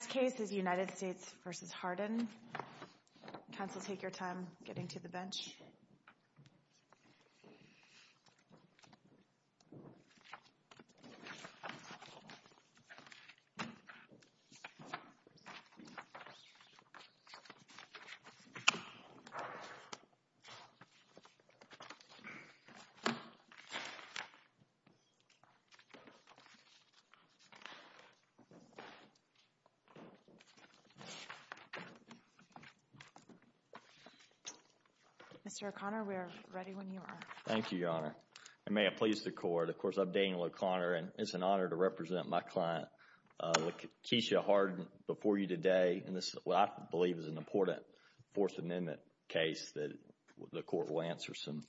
The last case is United States v. Harden. Counsel, take your time getting to the bench. Mr. O'Connor, we are ready when you are. Thank you, Your Honor. And may it please the Court, of course, I'm Daniel O'Connor, and it's an honor to represent my client, Lakesia Harden, before you today. And this is what I believe is an important Fourth Amendment case that the Court will answer some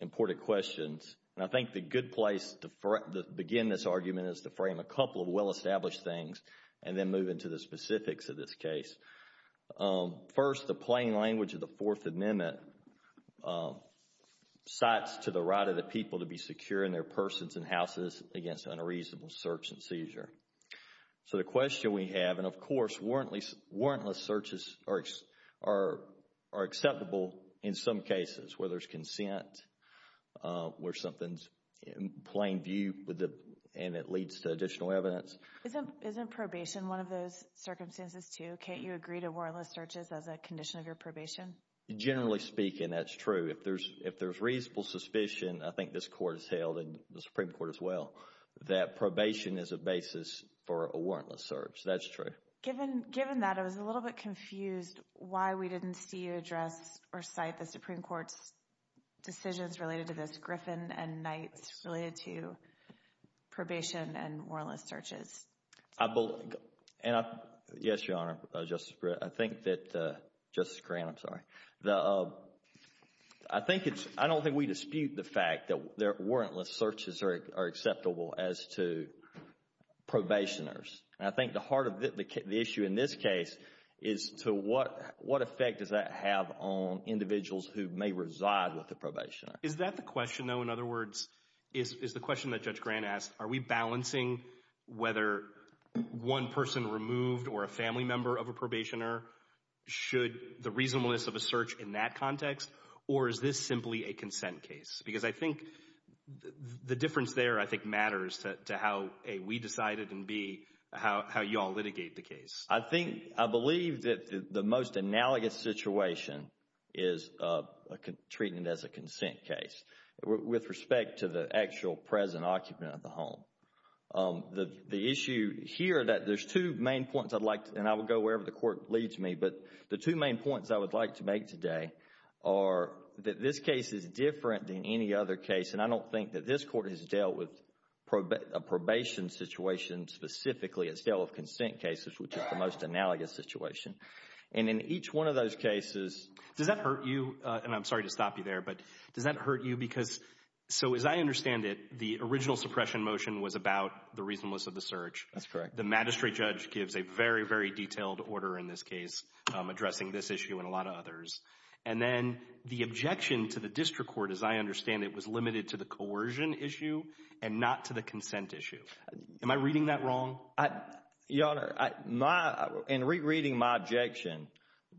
important questions. And I think the good place to begin this argument is to frame a couple of well-established things and then move into the specifics of this case. First, the plain language of the Fourth Amendment cites to the right of the people to be secure in their persons and houses against unreasonable search and seizure. So the question we have, and of course warrantless searches are acceptable in some cases where there's consent, where something's in plain view and it leads to additional evidence. Isn't probation one of those circumstances too? Can't you agree to warrantless searches as a condition of your probation? Generally speaking, that's true. If there's reasonable suspicion, I think this Court has held and the Supreme Court as well, that probation is a basis for a warrantless search. That's true. Given that, I was a little bit confused why we didn't see you address or cite the Supreme Court's decisions related to this, Griffin and Knight's, related to probation and warrantless searches. Yes, Your Honor, Justice Britt. I think that, Justice Grant, I'm sorry. I don't think we dispute the fact that warrantless searches are acceptable as to probationers. And I think the heart of the issue in this case is to what effect does that have on individuals who may reside with a probationer? Is that the question, though? In other words, is the question that Judge Grant asked, are we balancing whether one person removed or a family member of a probationer? Should the reasonableness of a search in that context, or is this simply a consent case? Because I think the difference there, I think, matters to how, A, we decided and, B, how you all litigate the case. I think, I believe that the most analogous situation is treating it as a consent case with respect to the actual present occupant of the home. The issue here that there's two main points I'd like to, and I will go wherever the Court leads me, but the two main points I would like to make today are that this case is different than any other case. And I don't think that this Court has dealt with a probation situation specifically. It's dealt with consent cases, which is the most analogous situation. And in each one of those cases, does that hurt you? And I'm sorry to stop you there, but does that hurt you? Because, so as I understand it, the original suppression motion was about the reasonableness of the search. That's correct. The magistrate judge gives a very, very detailed order in this case addressing this issue and a lot of others. And then the objection to the district court, as I understand it, was limited to the coercion issue and not to the consent issue. Am I reading that wrong? Your Honor, in rereading my objection,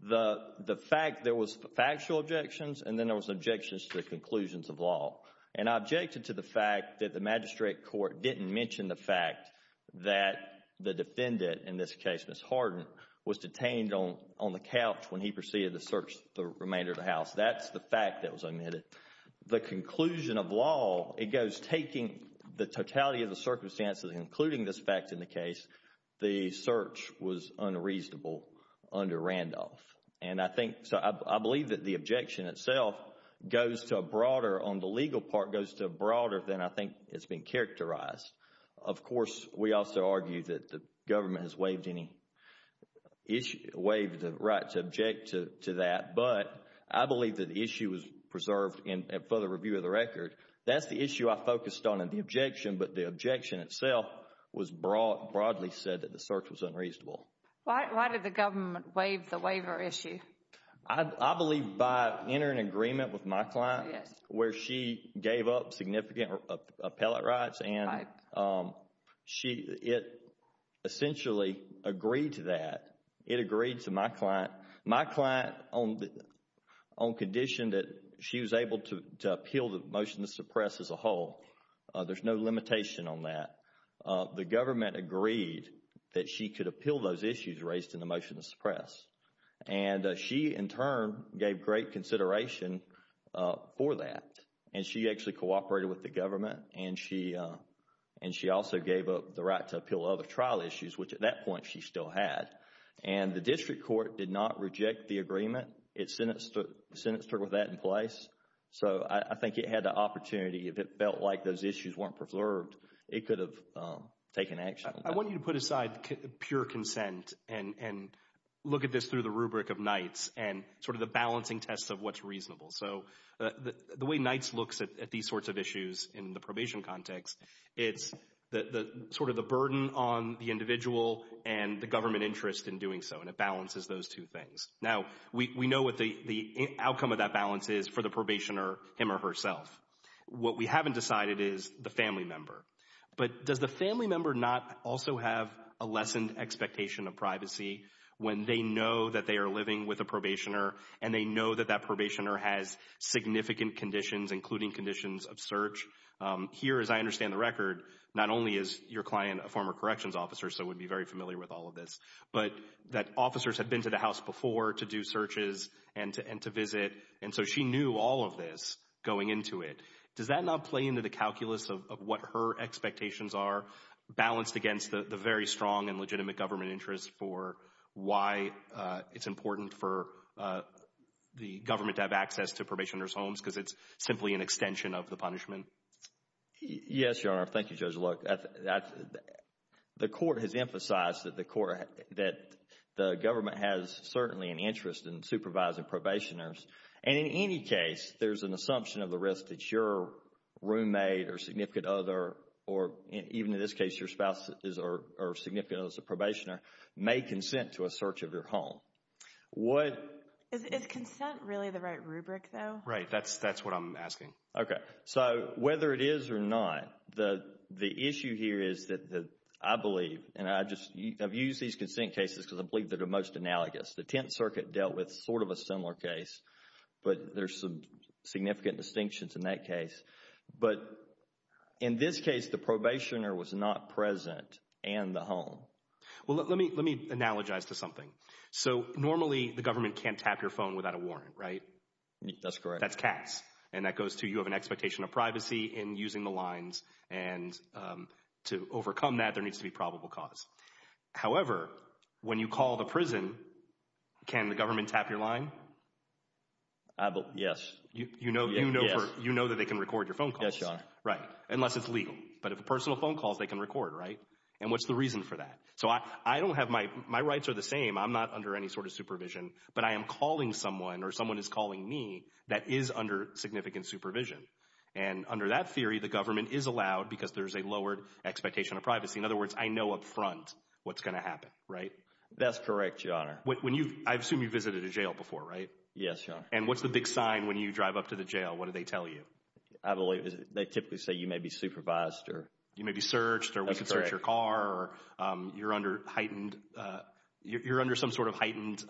the fact there was factual objections and then there was objections to the conclusions of law. And I objected to the fact that the magistrate court didn't mention the fact that the defendant, in this case Ms. Harden, was detained on the couch when he proceeded to search the remainder of the house. That's the fact that was omitted. The conclusion of law, it goes taking the totality of the circumstances including this fact in the case, the search was unreasonable under Randolph. And I think, so I believe that the objection itself goes to a broader, on the legal part, goes to a broader than I think has been characterized. Of course, we also argue that the government has waived any, waived the right to object to that, but I believe that the issue was preserved in further review of the record. That's the issue I focused on in the objection, but the objection itself was broadly said that the search was unreasonable. Why did the government waive the waiver issue? I believe by entering an agreement with my client where she gave up significant appellate rights and she, it essentially agreed to that. It agreed to my client, my client on condition that she was able to appeal the motion to suppress as a whole. There's no limitation on that. The government agreed that she could appeal those issues raised in the motion to suppress. And she in turn gave great consideration for that. And she actually cooperated with the government and she also gave up the right to appeal other trial issues, which at that point she still had. And the district court did not reject the agreement. It sentenced her with that in place. So I think it had the opportunity. If it felt like those issues weren't preserved, it could have taken action. I want you to put aside pure consent and look at this through the rubric of NITES and sort of the balancing tests of what's reasonable. So the way NITES looks at these sorts of issues in the probation context, it's sort of the burden on the individual and the government interest in doing so, and it balances those two things. Now, we know what the outcome of that balance is for the probationer, him or herself. What we haven't decided is the family member. But does the family member not also have a lessened expectation of privacy when they know that they are living with a probationer and they know that that probationer has significant conditions, including conditions of search? Here, as I understand the record, not only is your client a former corrections officer, so would be very familiar with all of this, but that officers had been to the house before to do searches and to visit, and so she knew all of this going into it. Does that not play into the calculus of what her expectations are balanced against the very strong and legitimate government interest for why it's important for the government to have access to probationers' homes because it's simply an extension of the punishment? Yes, Your Honor. Thank you, Judge. The court has emphasized that the government has certainly an interest in supervising probationers, and in any case, there's an assumption of the risk that your roommate or significant other, or even in this case, your spouse is significant as a probationer, may consent to a search of your home. Is consent really the right rubric, though? Right. That's what I'm asking. Okay. So whether it is or not, the issue here is that I believe, and I've used these consent cases because I believe they're the most analogous. The Tenth Circuit dealt with sort of a similar case, but there's some significant distinctions in that case. But in this case, the probationer was not present and the home. Well, let me analogize to something. So normally, the government can't tap your phone without a warrant, right? That's correct. And that goes to you have an expectation of privacy in using the lines. And to overcome that, there needs to be probable cause. However, when you call the prison, can the government tap your line? Yes. You know that they can record your phone calls? Yes, Your Honor. Right. Unless it's legal. But if it's personal phone calls, they can record, right? And what's the reason for that? So I don't have my – my rights are the same. I'm not under any sort of supervision. But I am calling someone or someone is calling me that is under significant supervision. And under that theory, the government is allowed because there's a lowered expectation of privacy. In other words, I know up front what's going to happen, right? That's correct, Your Honor. When you – I assume you've visited a jail before, right? Yes, Your Honor. And what's the big sign when you drive up to the jail? What do they tell you? I believe they typically say you may be supervised or – You may be searched or we can search your car. That's correct. You're under heightened – you're under some sort of heightened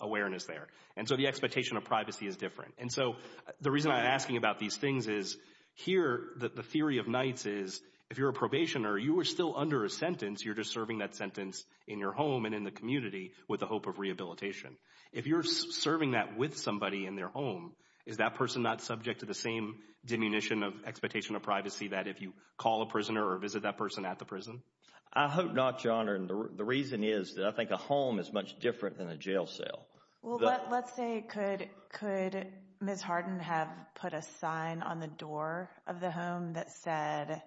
awareness there. And so the expectation of privacy is different. And so the reason I'm asking about these things is here the theory of Knights is if you're a probationer, you are still under a sentence. You're just serving that sentence in your home and in the community with the hope of rehabilitation. If you're serving that with somebody in their home, is that person not subject to the same diminution of expectation of privacy that if you call a prisoner or visit that person at the prison? I hope not, Your Honor. And the reason is that I think a home is much different than a jail cell. Well, let's say – could Ms. Harden have put a sign on the door of the home that said,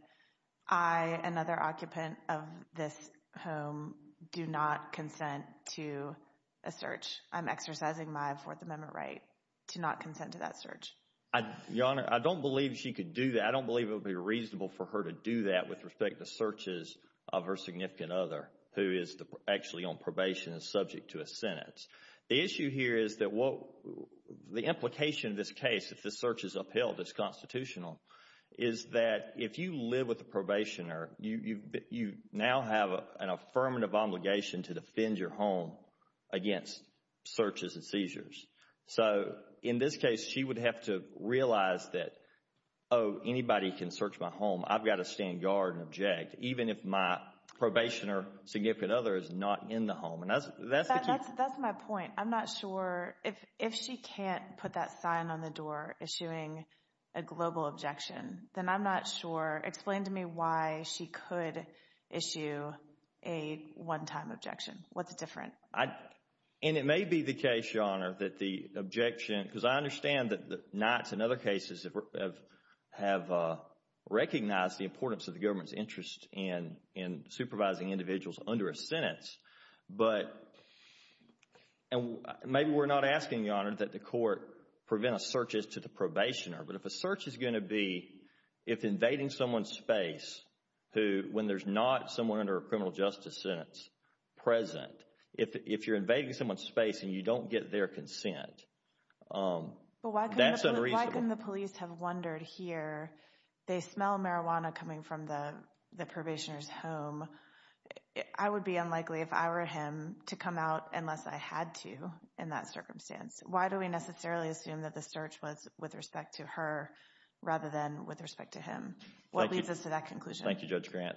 I, another occupant of this home, do not consent to a search? I'm exercising my Fourth Amendment right to not consent to that search. Your Honor, I don't believe she could do that. And I don't believe it would be reasonable for her to do that with respect to searches of her significant other who is actually on probation and subject to a sentence. The issue here is that the implication of this case, if this search is upheld, is constitutional, is that if you live with a probationer, you now have an affirmative obligation to defend your home against searches and seizures. So, in this case, she would have to realize that, oh, anybody can search my home. I've got to stand guard and object, even if my probationer significant other is not in the home. That's my point. I'm not sure – if she can't put that sign on the door issuing a global objection, then I'm not sure – explain to me why she could issue a one-time objection. What's different? And it may be the case, Your Honor, that the objection – because I understand that the Knights in other cases have recognized the importance of the government's interest in supervising individuals under a sentence. But – and maybe we're not asking, Your Honor, that the court prevent searches to the probationer. But if a search is going to be – if invading someone's space who – if not someone under a criminal justice sentence present, if you're invading someone's space and you don't get their consent, that's unreasonable. But why couldn't the police have wondered here, they smell marijuana coming from the probationer's home. I would be unlikely, if I were him, to come out unless I had to in that circumstance. Why do we necessarily assume that the search was with respect to her rather than with respect to him? What leads us to that conclusion? Thank you, Judge Grant.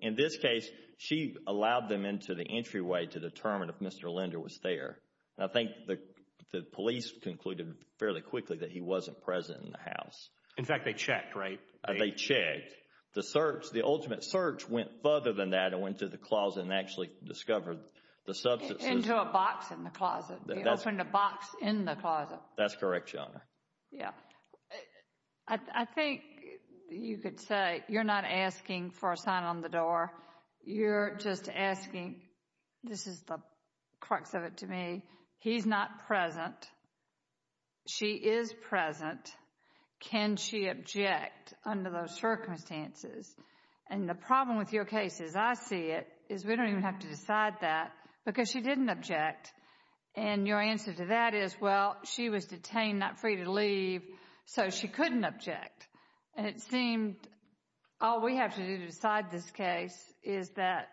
In this case, she allowed them into the entryway to determine if Mr. Linder was there. I think the police concluded fairly quickly that he wasn't present in the house. In fact, they checked, right? They checked. The search – the ultimate search went further than that and went to the closet and actually discovered the substances. Into a box in the closet. They opened a box in the closet. That's correct, Your Honor. Yeah. I think you could say you're not asking for a sign on the door. You're just asking – this is the crux of it to me – he's not present. She is present. Can she object under those circumstances? And the problem with your case, as I see it, is we don't even have to decide that because she didn't object. And your answer to that is, well, she was detained, not free to leave, so she couldn't object. And it seemed all we have to do to decide this case is that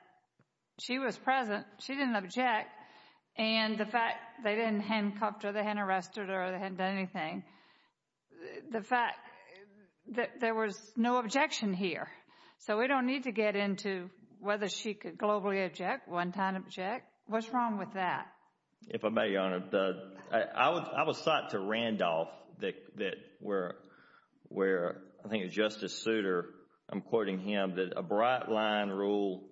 she was present, she didn't object, and the fact they didn't handcuff her, they hadn't arrested her, they hadn't done anything, the fact that there was no objection here. So we don't need to get into whether she could globally object, one-time object. What's wrong with that? If I may, Your Honor, I would cite to Randolph, where I think it was Justice Souter, I'm quoting him, that a bright-line rule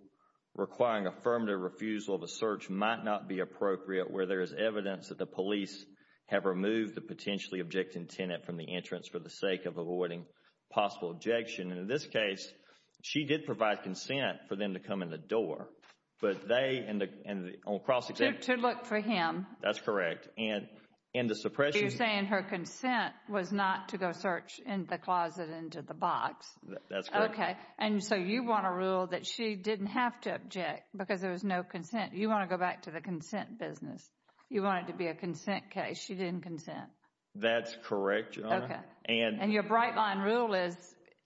requiring affirmative refusal of a search might not be appropriate where there is evidence that the police have removed the potentially objecting tenant from the entrance for the sake of avoiding possible objection. And in this case, she did provide consent for them to come in the door. To look for him. That's correct. You're saying her consent was not to go search in the closet into the box. That's correct. Okay. And so you want to rule that she didn't have to object because there was no consent. You want to go back to the consent business. You want it to be a consent case. She didn't consent. That's correct, Your Honor. And your bright-line rule is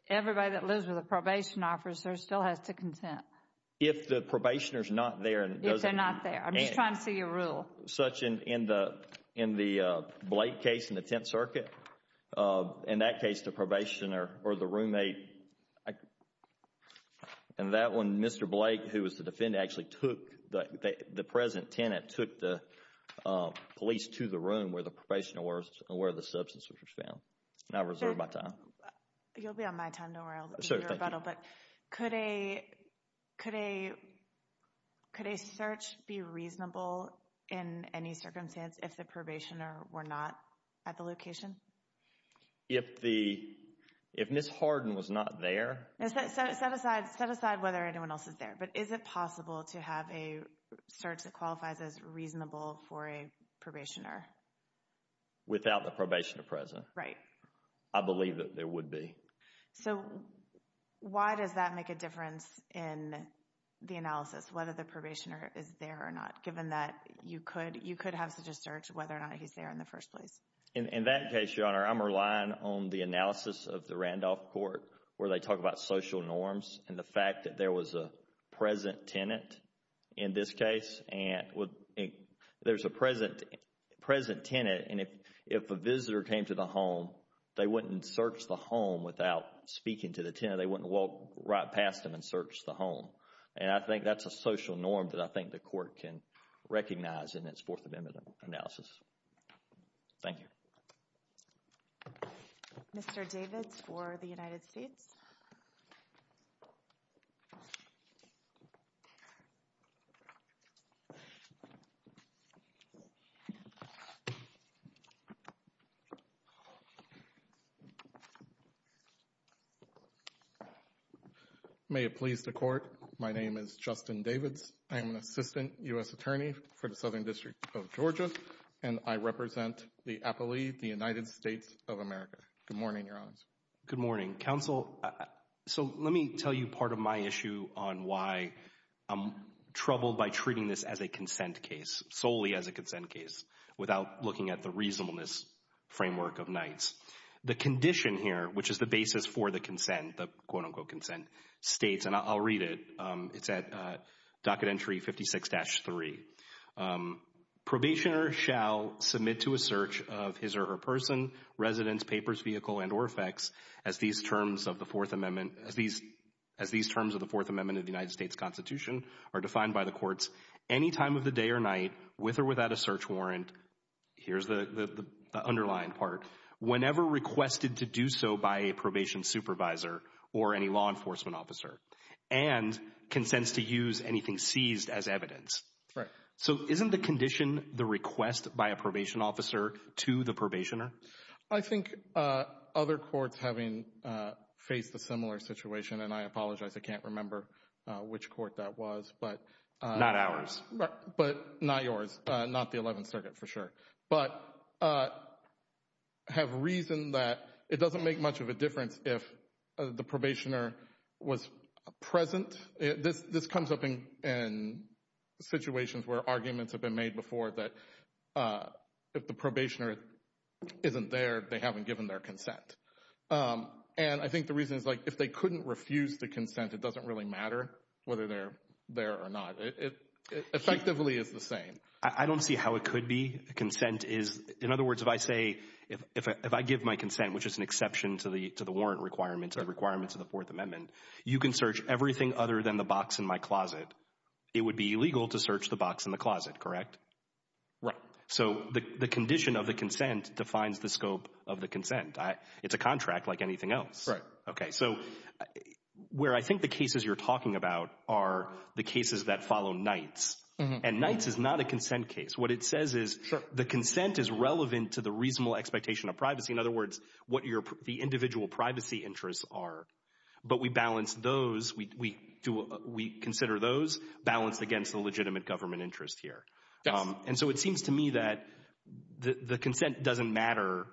everybody that lives with a probation officer still has to consent. If the probationer is not there. If they're not there. I'm just trying to see your rule. Such in the Blake case in the Tenth Circuit. In that case, the probationer or the roommate, and that one, Mr. Blake, who was the defendant, actually took the present tenant, took the police to the room where the probationer was and where the substance was found. And I reserve my time. You'll be on my time. Don't worry. I'll do your rebuttal. But could a search be reasonable in any circumstance if the probationer were not at the location? If Ms. Harden was not there? Set aside whether anyone else is there. But is it possible to have a search that qualifies as reasonable for a probationer? Without the probationer present? Right. I believe that there would be. So, why does that make a difference in the analysis, whether the probationer is there or not, given that you could have such a search whether or not he's there in the first place? In that case, Your Honor, I'm relying on the analysis of the Randolph Court where they talk about social norms and the fact that there was a present tenant in this case. There's a present tenant, and if a visitor came to the home, they wouldn't search the home without speaking to the tenant. They wouldn't walk right past them and search the home. And I think that's a social norm that I think the Court can recognize in its Fourth Amendment analysis. Thank you. Mr. Davids for the United States. May it please the Court. My name is Justin Davids. I am an Assistant U.S. Attorney for the Southern District of Georgia, and I represent the Appellee, the United States of America. Good morning, Your Honor. Good morning, Counsel. So let me tell you part of my issue on why I'm troubled by treating this as a consent case, solely as a consent case, without looking at the reasonableness framework of Knights. The condition here, which is the basis for the consent, the quote-unquote consent, states, and I'll read it, it's at Docket Entry 56-3. Probationer shall submit to a search of his or her person, residence, papers, vehicle, and or effects as these terms of the Fourth Amendment of the United States Constitution are defined by the courts any time of the day or night, with or without a search warrant, here's the underlying part, whenever requested to do so by a probation supervisor or any law enforcement officer, and consents to use anything seized as evidence. So isn't the condition the request by a probation officer to the probationer? I think other courts, having faced a similar situation, and I apologize, I can't remember which court that was. Not ours. But not yours, not the Eleventh Circuit for sure. But have reasoned that it doesn't make much of a difference if the probationer was present. This comes up in situations where arguments have been made before that if the probationer isn't there, they haven't given their consent. And I think the reason is if they couldn't refuse the consent, it doesn't really matter whether they're there or not. It effectively is the same. I don't see how it could be. Consent is, in other words, if I say, if I give my consent, which is an exception to the warrant requirements of the Fourth Amendment, you can search everything other than the box in my closet, it would be illegal to search the box in the closet, correct? Right. So the condition of the consent defines the scope of the consent. It's a contract like anything else. Right. Okay, so where I think the cases you're talking about are the cases that follow Knights. And Knights is not a consent case. What it says is the consent is relevant to the reasonable expectation of privacy. In other words, what the individual privacy interests are. But we balance those, we consider those balanced against the legitimate government interest here. Yes. And so it seems to me that the consent doesn't matter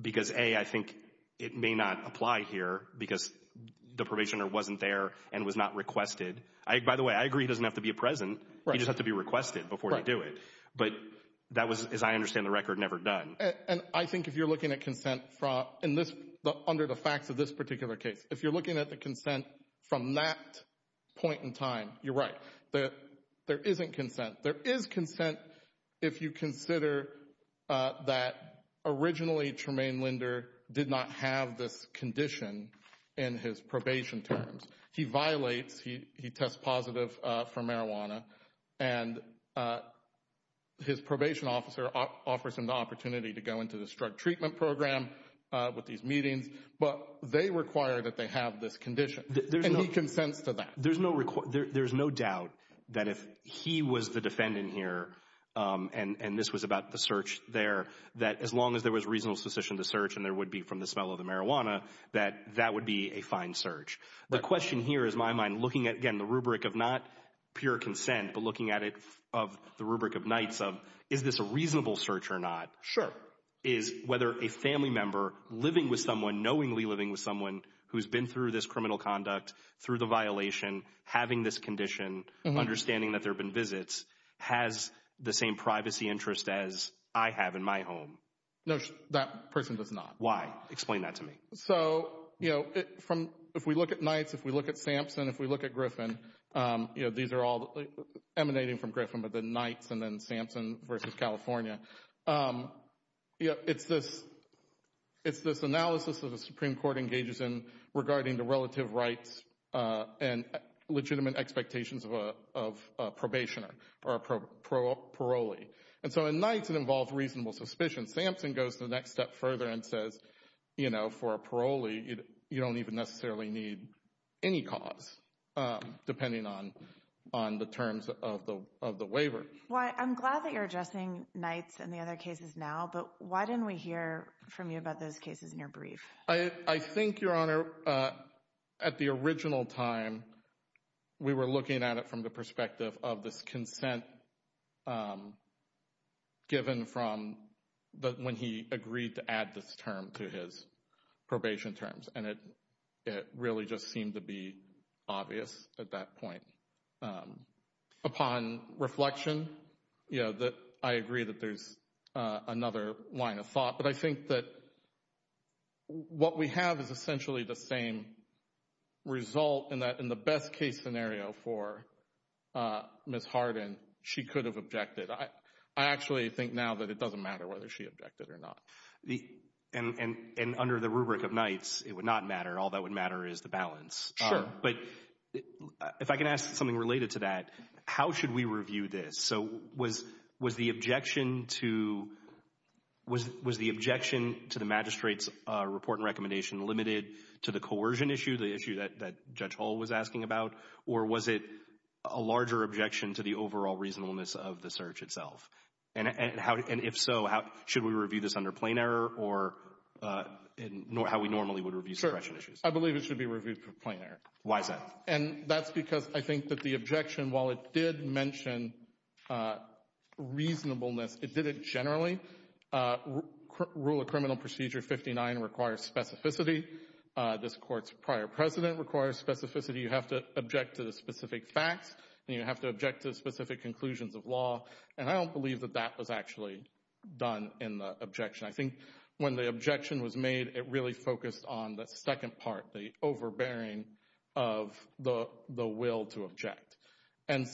because, A, I think it may not apply here because the probationer wasn't there and was not requested. By the way, I agree he doesn't have to be present. He just has to be requested before you do it. But that was, as I understand the record, never done. And I think if you're looking at consent under the facts of this particular case, if you're looking at the consent from that point in time, you're right. There isn't consent. There is consent if you consider that originally Tremaine Linder did not have this condition in his probation terms. He violates. He tests positive for marijuana. And his probation officer offers him the opportunity to go into this drug treatment program with these meetings. But they require that they have this condition. And he consents to that. There's no doubt that if he was the defendant here, and this was about the search there, that as long as there was reasonable suspicion of the search and there would be from the smell of the marijuana, that that would be a fine search. The question here is my mind looking at, again, the rubric of not pure consent, but looking at it of the rubric of nights of is this a reasonable search or not. Sure. Is whether a family member living with someone, knowingly living with someone, who's been through this criminal conduct, through the violation, having this condition, understanding that there have been visits, has the same privacy interest as I have in my home. No, that person does not. Why? Explain that to me. So, you know, if we look at nights, if we look at Sampson, if we look at Griffin, these are all emanating from Griffin, but the nights and then Sampson versus California. It's this analysis that the Supreme Court engages in regarding the relative rights and legitimate expectations of a probationer or a parolee. And so in nights it involves reasonable suspicion. Sampson goes to the next step further and says, you know, for a parolee, you don't even necessarily need any cause, depending on the terms of the waiver. I'm glad that you're addressing nights and the other cases now, but why didn't we hear from you about those cases in your brief? I think, Your Honor, at the original time, we were looking at it from the perspective of this consent given from when he agreed to add this term to his probation terms, and it really just seemed to be obvious at that point. Upon reflection, you know, I agree that there's another line of thought, but I think that what we have is essentially the same result in that in the best case scenario for Ms. Hardin, she could have objected. I actually think now that it doesn't matter whether she objected or not. And under the rubric of nights, it would not matter. All that would matter is the balance. Sure. But if I can ask something related to that, how should we review this? So was the objection to the magistrate's report and recommendation limited to the coercion issue, the issue that Judge Hull was asking about, or was it a larger objection to the overall reasonableness of the search itself? And if so, should we review this under plain error or how we normally would review suppression issues? Sure. I believe it should be reviewed for plain error. Why is that? And that's because I think that the objection, while it did mention reasonableness, it did it generally. Rule of criminal procedure 59 requires specificity. This Court's prior precedent requires specificity. You have to object to the specific facts, and you have to object to specific conclusions of law. And I don't believe that that was actually done in the objection. I think when the objection was made, it really focused on the second part, the overbearing of the will to object. And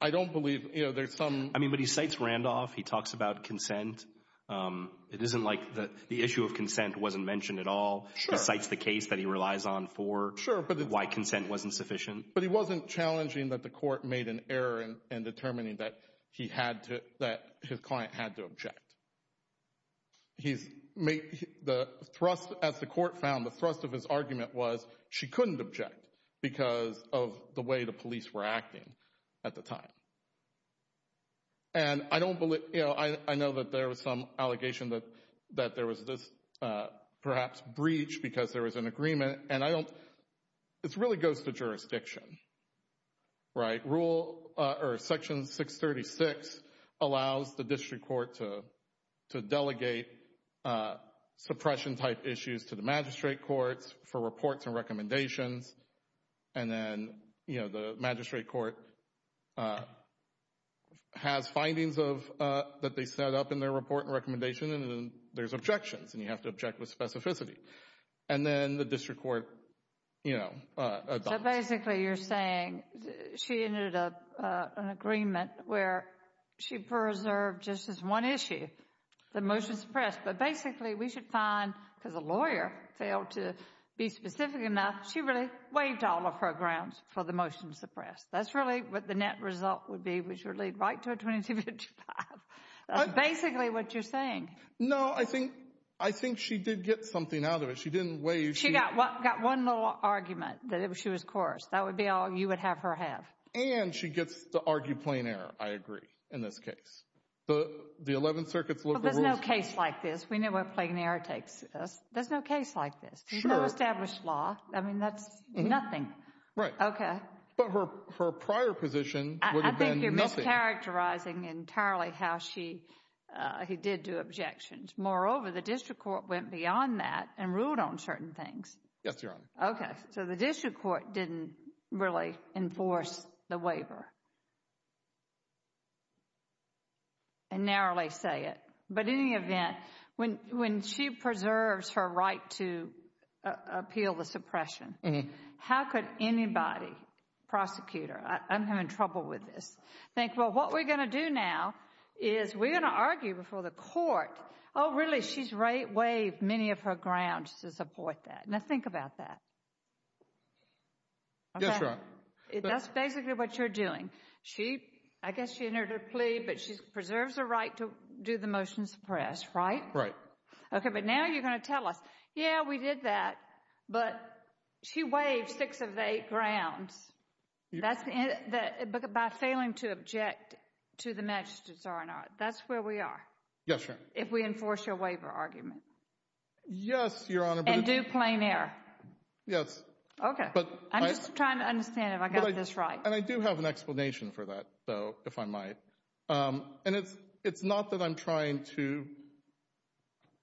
I don't believe there's some— I mean, but he cites Randolph. He talks about consent. It isn't like the issue of consent wasn't mentioned at all. Sure. He cites the case that he relies on for why consent wasn't sufficient. But he wasn't challenging that the Court made an error in determining that his client had to object. As the Court found, the thrust of his argument was she couldn't object because of the way the police were acting at the time. And I know that there was some allegation that there was this, perhaps, breach because there was an agreement. And I don't—it really goes to jurisdiction, right? Rule—or Section 636 allows the district court to delegate suppression-type issues to the magistrate courts for reports and recommendations. And then, you know, the magistrate court has findings that they set up in their report and recommendation, and then there's objections, and you have to object with specificity. And then the district court, you know, adopts. So basically, you're saying she ended up—an agreement where she preserved just this one issue, the motion to suppress. But basically, we should find, because the lawyer failed to be specific enough, she really waived all of her grounds for the motion to suppress. That's really what the net result would be, which would lead right to a 2255. That's basically what you're saying. No, I think she did get something out of it. She didn't waive— She got one little argument, that she was coarse. That would be all you would have her have. And she gets to argue plain error, I agree, in this case. The 11th Circuit's local rules— Well, there's no case like this. We know where plain error takes us. There's no case like this. Sure. There's no established law. I mean, that's nothing. Right. Okay. But her prior position would have been nothing. You're characterizing entirely how she did do objections. Moreover, the district court went beyond that and ruled on certain things. Yes, Your Honor. Okay. So the district court didn't really enforce the waiver, and narrowly say it. But in any event, when she preserves her right to appeal the suppression, how could anybody, prosecutor—I'm having trouble with this— but what we're going to do now is we're going to argue before the court, oh, really, she's waived many of her grounds to support that. Now think about that. Yes, Your Honor. That's basically what you're doing. I guess she entered her plea, but she preserves her right to do the motion to suppress, right? Right. Okay. But now you're going to tell us, yeah, we did that, but she waived six of the eight grounds. But by failing to object to the magistrate's order, that's where we are. Yes, Your Honor. If we enforce your waiver argument. Yes, Your Honor. And do plain error. Yes. Okay. I'm just trying to understand if I got this right. And I do have an explanation for that, though, if I might. And it's not that I'm trying to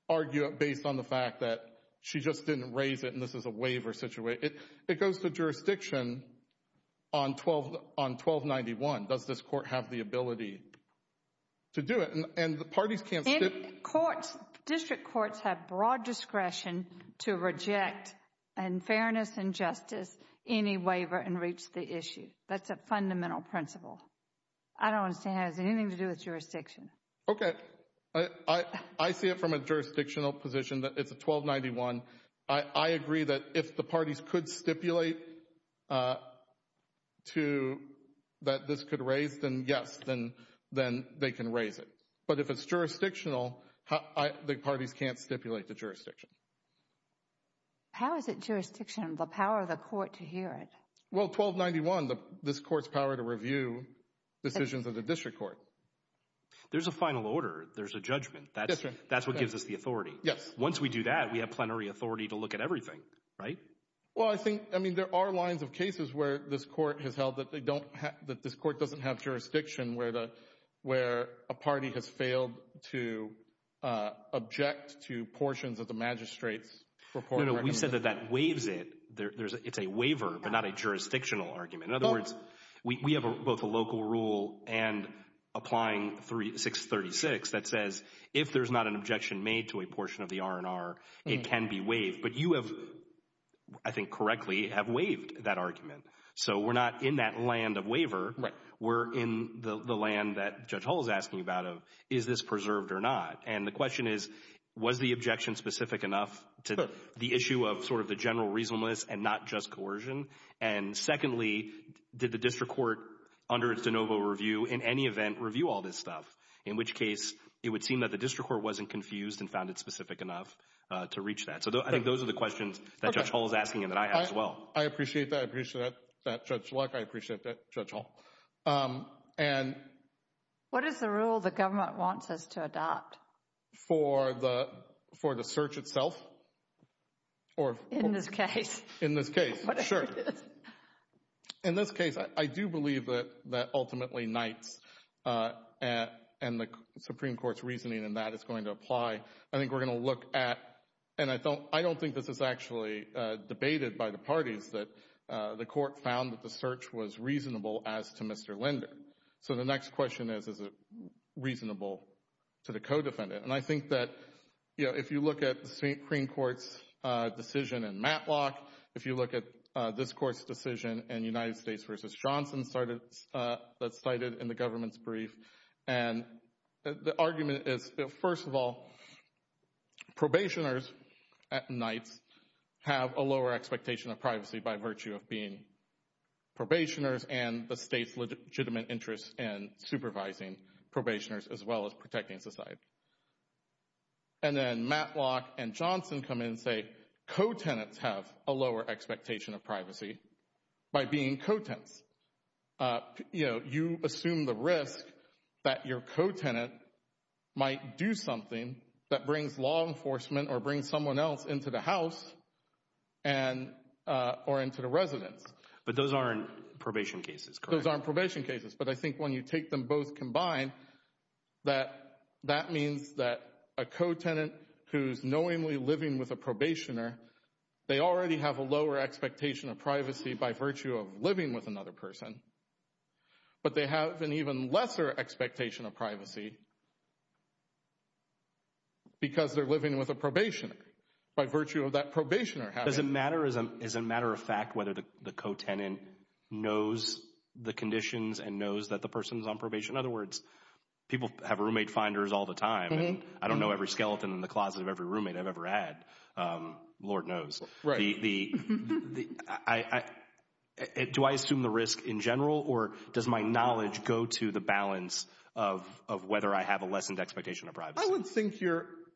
argue it based on the fact that she just didn't raise it and this is a waiver situation. It goes to jurisdiction on 1291. Does this court have the ability to do it? And the parties can't stipulate. District courts have broad discretion to reject in fairness and justice any waiver and reach the issue. That's a fundamental principle. I don't understand how it has anything to do with jurisdiction. Okay. I see it from a jurisdictional position that it's a 1291. I agree that if the parties could stipulate that this could raise, then yes, then they can raise it. But if it's jurisdictional, the parties can't stipulate the jurisdiction. How is it jurisdictional, the power of the court to hear it? Well, 1291, this court's power to review decisions of the district court. There's a final order. There's a judgment. That's what gives us the authority. Yes. Once we do that, we have plenary authority to look at everything, right? Well, I think, I mean, there are lines of cases where this court has held that they don't have, that this court doesn't have jurisdiction where a party has failed to object to portions of the magistrate's report. No, no, we said that that waives it. It's a waiver but not a jurisdictional argument. In other words, we have both a local rule and applying 636 that says if there's not an objection made to a portion of the R&R, it can be waived. But you have, I think correctly, have waived that argument. So we're not in that land of waiver. Right. We're in the land that Judge Hull is asking about of is this preserved or not. And the question is was the objection specific enough to the issue of sort of the general reasonableness and not just coercion? And secondly, did the district court under its de novo review, in any event, review all this stuff? In which case, it would seem that the district court wasn't confused and found it specific enough to reach that. So I think those are the questions that Judge Hull is asking and that I have as well. I appreciate that. I appreciate that, Judge Luck. I appreciate that, Judge Hull. What is the rule the government wants us to adopt? For the search itself? In this case. In this case, sure. In this case, I do believe that ultimately Knights and the Supreme Court's reasoning in that is going to apply. I think we're going to look at, and I don't think this is actually debated by the parties, that the court found that the search was reasonable as to Mr. Linder. So the next question is, is it reasonable to the co-defendant? And I think that if you look at the Supreme Court's decision in Matlock, if you look at this court's decision in United States v. Johnson that's cited in the government's brief, and the argument is, first of all, probationers at Knights have a lower expectation of privacy by virtue of being probationers and the state's legitimate interest in supervising probationers as well as protecting society. And then Matlock and Johnson come in and say co-tenants have a lower expectation of privacy by being co-tenants. You assume the risk that your co-tenant might do something that brings law enforcement or brings someone else into the house or into the residence. But those aren't probation cases, correct? Those aren't probation cases, but I think when you take them both combined, that that means that a co-tenant who's knowingly living with a probationer, they already have a lower expectation of privacy by virtue of living with another person, but they have an even lesser expectation of privacy because they're living with a probationer. By virtue of that probationer having— But does it matter, is it a matter of fact whether the co-tenant knows the conditions and knows that the person's on probation? In other words, people have roommate finders all the time, and I don't know every skeleton in the closet of every roommate I've ever had. Lord knows. Do I assume the risk in general, or does my knowledge go to the balance of whether I have a lessened expectation of privacy?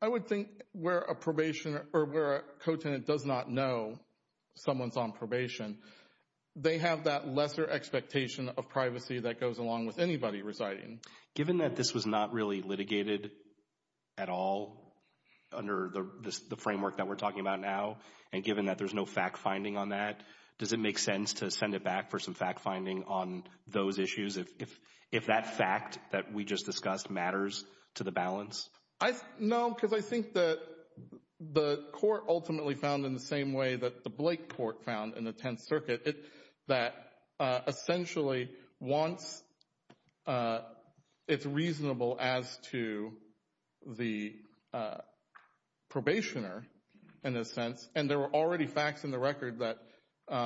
I would think where a probationer or where a co-tenant does not know someone's on probation, they have that lesser expectation of privacy that goes along with anybody residing. Given that this was not really litigated at all under the framework that we're talking about now, and given that there's no fact-finding on that, does it make sense to send it back for some fact-finding on those issues if that fact that we just discussed matters to the balance? No, because I think the court ultimately found in the same way that the Blake court found in the Tenth Circuit, that essentially once it's reasonable as to the probationer, in a sense, and there were already facts in the record that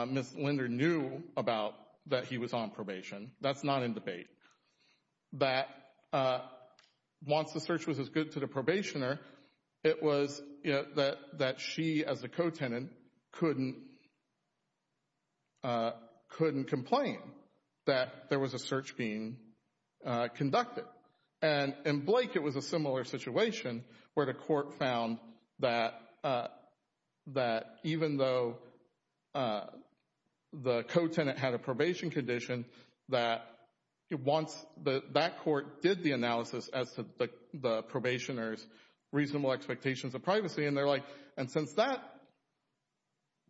Ms. Linder knew about that he was on probation. That's not in debate. That once the search was as good to the probationer, it was that she as a co-tenant couldn't complain that there was a search being conducted. And in Blake, it was a similar situation where the court found that even though the co-tenant had a probation condition, that once that court did the analysis as to the probationer's reasonable expectations of privacy, and they're like, and since that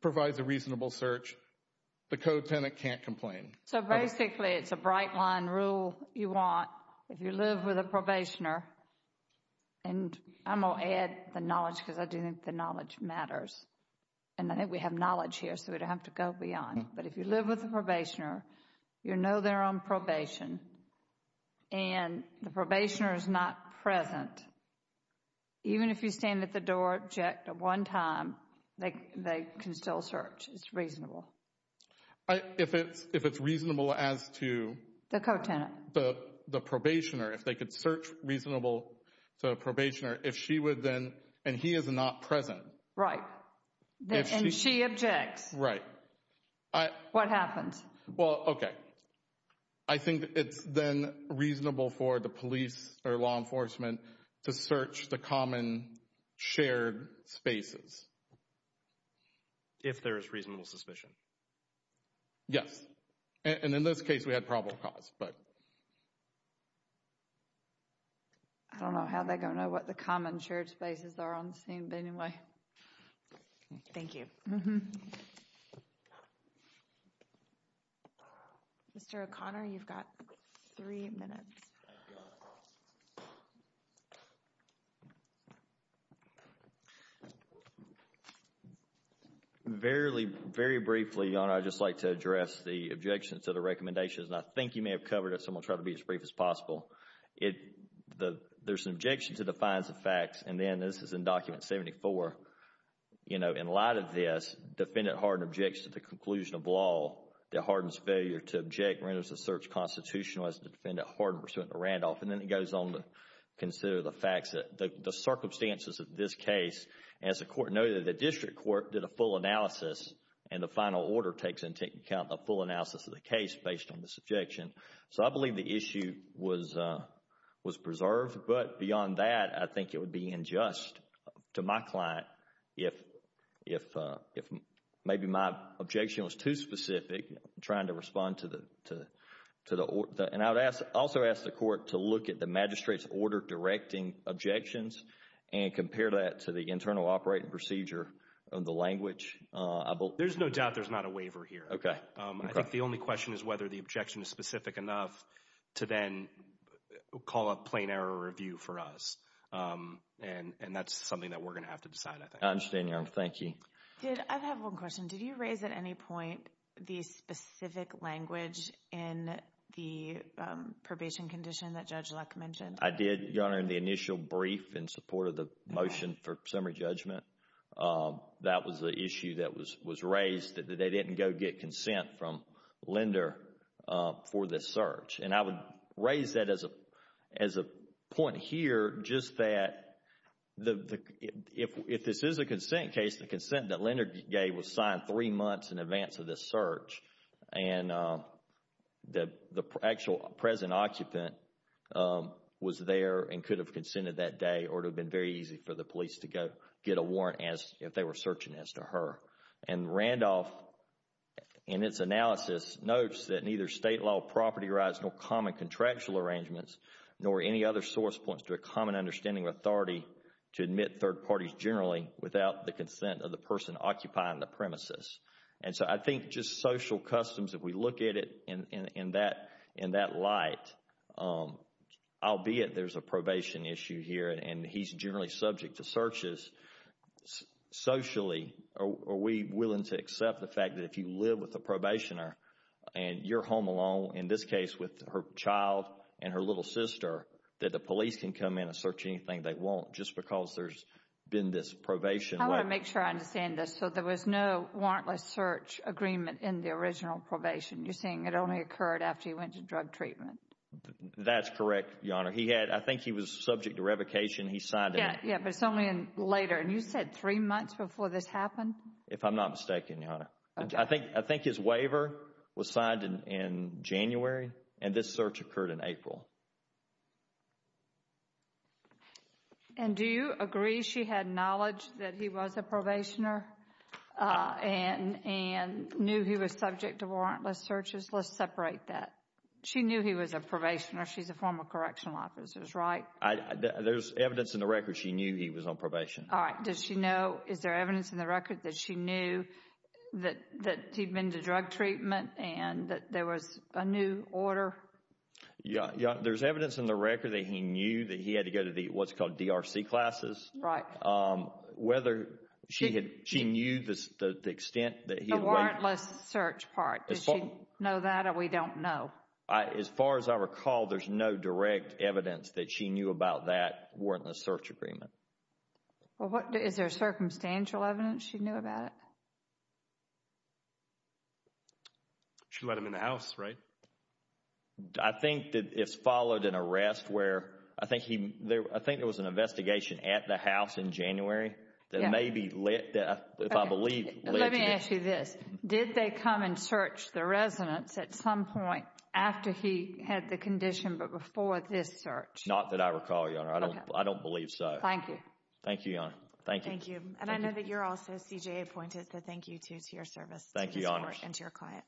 provides a reasonable search, the co-tenant can't complain. So basically, it's a bright line rule you want if you live with a probationer. And I'm going to add the knowledge because I do think the knowledge matters. And I think we have knowledge here, so we don't have to go beyond. But if you live with a probationer, you know they're on probation, and the probationer is not present, even if you stand at the door and object at one time, they can still search. It's reasonable. If it's reasonable as to the probationer, if they could search reasonable to the probationer, if she would then, and he is not present. Right. And she objects. Right. What happens? Well, okay. I think it's then reasonable for the police or law enforcement to search the common shared spaces. If there is reasonable suspicion. Yes. And in this case, we had probable cause. I don't know how they're going to know what the common shared spaces are on the scene, but anyway. Thank you. Mr. O'Connor, you've got three minutes. Very briefly, I would just like to address the objections to the recommendations. And I think you may have covered it, so I'm going to try to be as brief as possible. There's an objection to the fines of facts, and then this is in Document 74. You know, in light of this, defendant Hardin objects to the conclusion of law that Hardin's failure to object renders the search constitutional as defendant Hardin pursuant to Randolph. And then it goes on to consider the facts, the circumstances of this case. As the court noted, the district court did a full analysis, and the final order takes into account the full analysis of the case based on this objection. So I believe the issue was preserved. But beyond that, I think it would be unjust to my client if maybe my objection was too specific, trying to respond to the order. And I would also ask the court to look at the magistrate's order directing objections and compare that to the internal operating procedure of the language. There's no doubt there's not a waiver here. Okay. I think the only question is whether the objection is specific enough to then call a plain error review for us. And that's something that we're going to have to decide, I think. I understand, Your Honor. Thank you. I have one question. Did you raise at any point the specific language in the probation condition that Judge Luck mentioned? I did, Your Honor, in the initial brief in support of the motion for summary judgment. That was the issue that was raised, that they didn't go get consent from Lender for this search. And I would raise that as a point here, just that if this is a consent case, the consent that Lender gave was signed three months in advance of this search. And the actual present occupant was there and could have consented that day or it would have been very easy for the police to go get a warrant if they were searching as to her. And Randolph, in its analysis, notes that neither state law property rights nor common contractual arrangements nor any other source points to a common understanding or authority to admit third parties generally without the consent of the person occupying the premises. And so I think just social customs, if we look at it in that light, albeit there's a probation issue here and he's generally subject to searches, socially, are we willing to accept the fact that if you live with a probationer and you're home alone, in this case with her child and her little sister, that the police can come in and search anything they want just because there's been this probation. I want to make sure I understand this. So there was no warrantless search agreement in the original probation. You're saying it only occurred after he went to drug treatment. That's correct, Your Honor. I think he was subject to revocation. He signed it. Yeah, but it's only later. And you said three months before this happened? If I'm not mistaken, Your Honor. I think his waiver was signed in January and this search occurred in April. And do you agree she had knowledge that he was a probationer and knew he was subject to warrantless searches? Let's separate that. She knew he was a probationer. She's a former correctional officer, right? There's evidence in the record she knew he was on probation. All right. Does she know, is there evidence in the record that she knew that he'd been to drug treatment and that there was a new order? Yeah. There's evidence in the record that he knew that he had to go to what's called DRC classes. Right. Whether she knew the extent that he had waited. The warrantless search part. Did she know that or we don't know? As far as I recall, there's no direct evidence that she knew about that warrantless search agreement. Is there circumstantial evidence she knew about it? No. She let him in the house, right? I think that it's followed an arrest where I think there was an investigation at the house in January that maybe lit, if I believe lit. Let me ask you this. Did they come and search the residence at some point after he had the condition but before this search? Not that I recall, Your Honor. I don't believe so. Thank you. Thank you, Your Honor. Thank you. And I know that you're also CJA appointed, so thank you too to your service. Thank you, Your Honor. And to your client.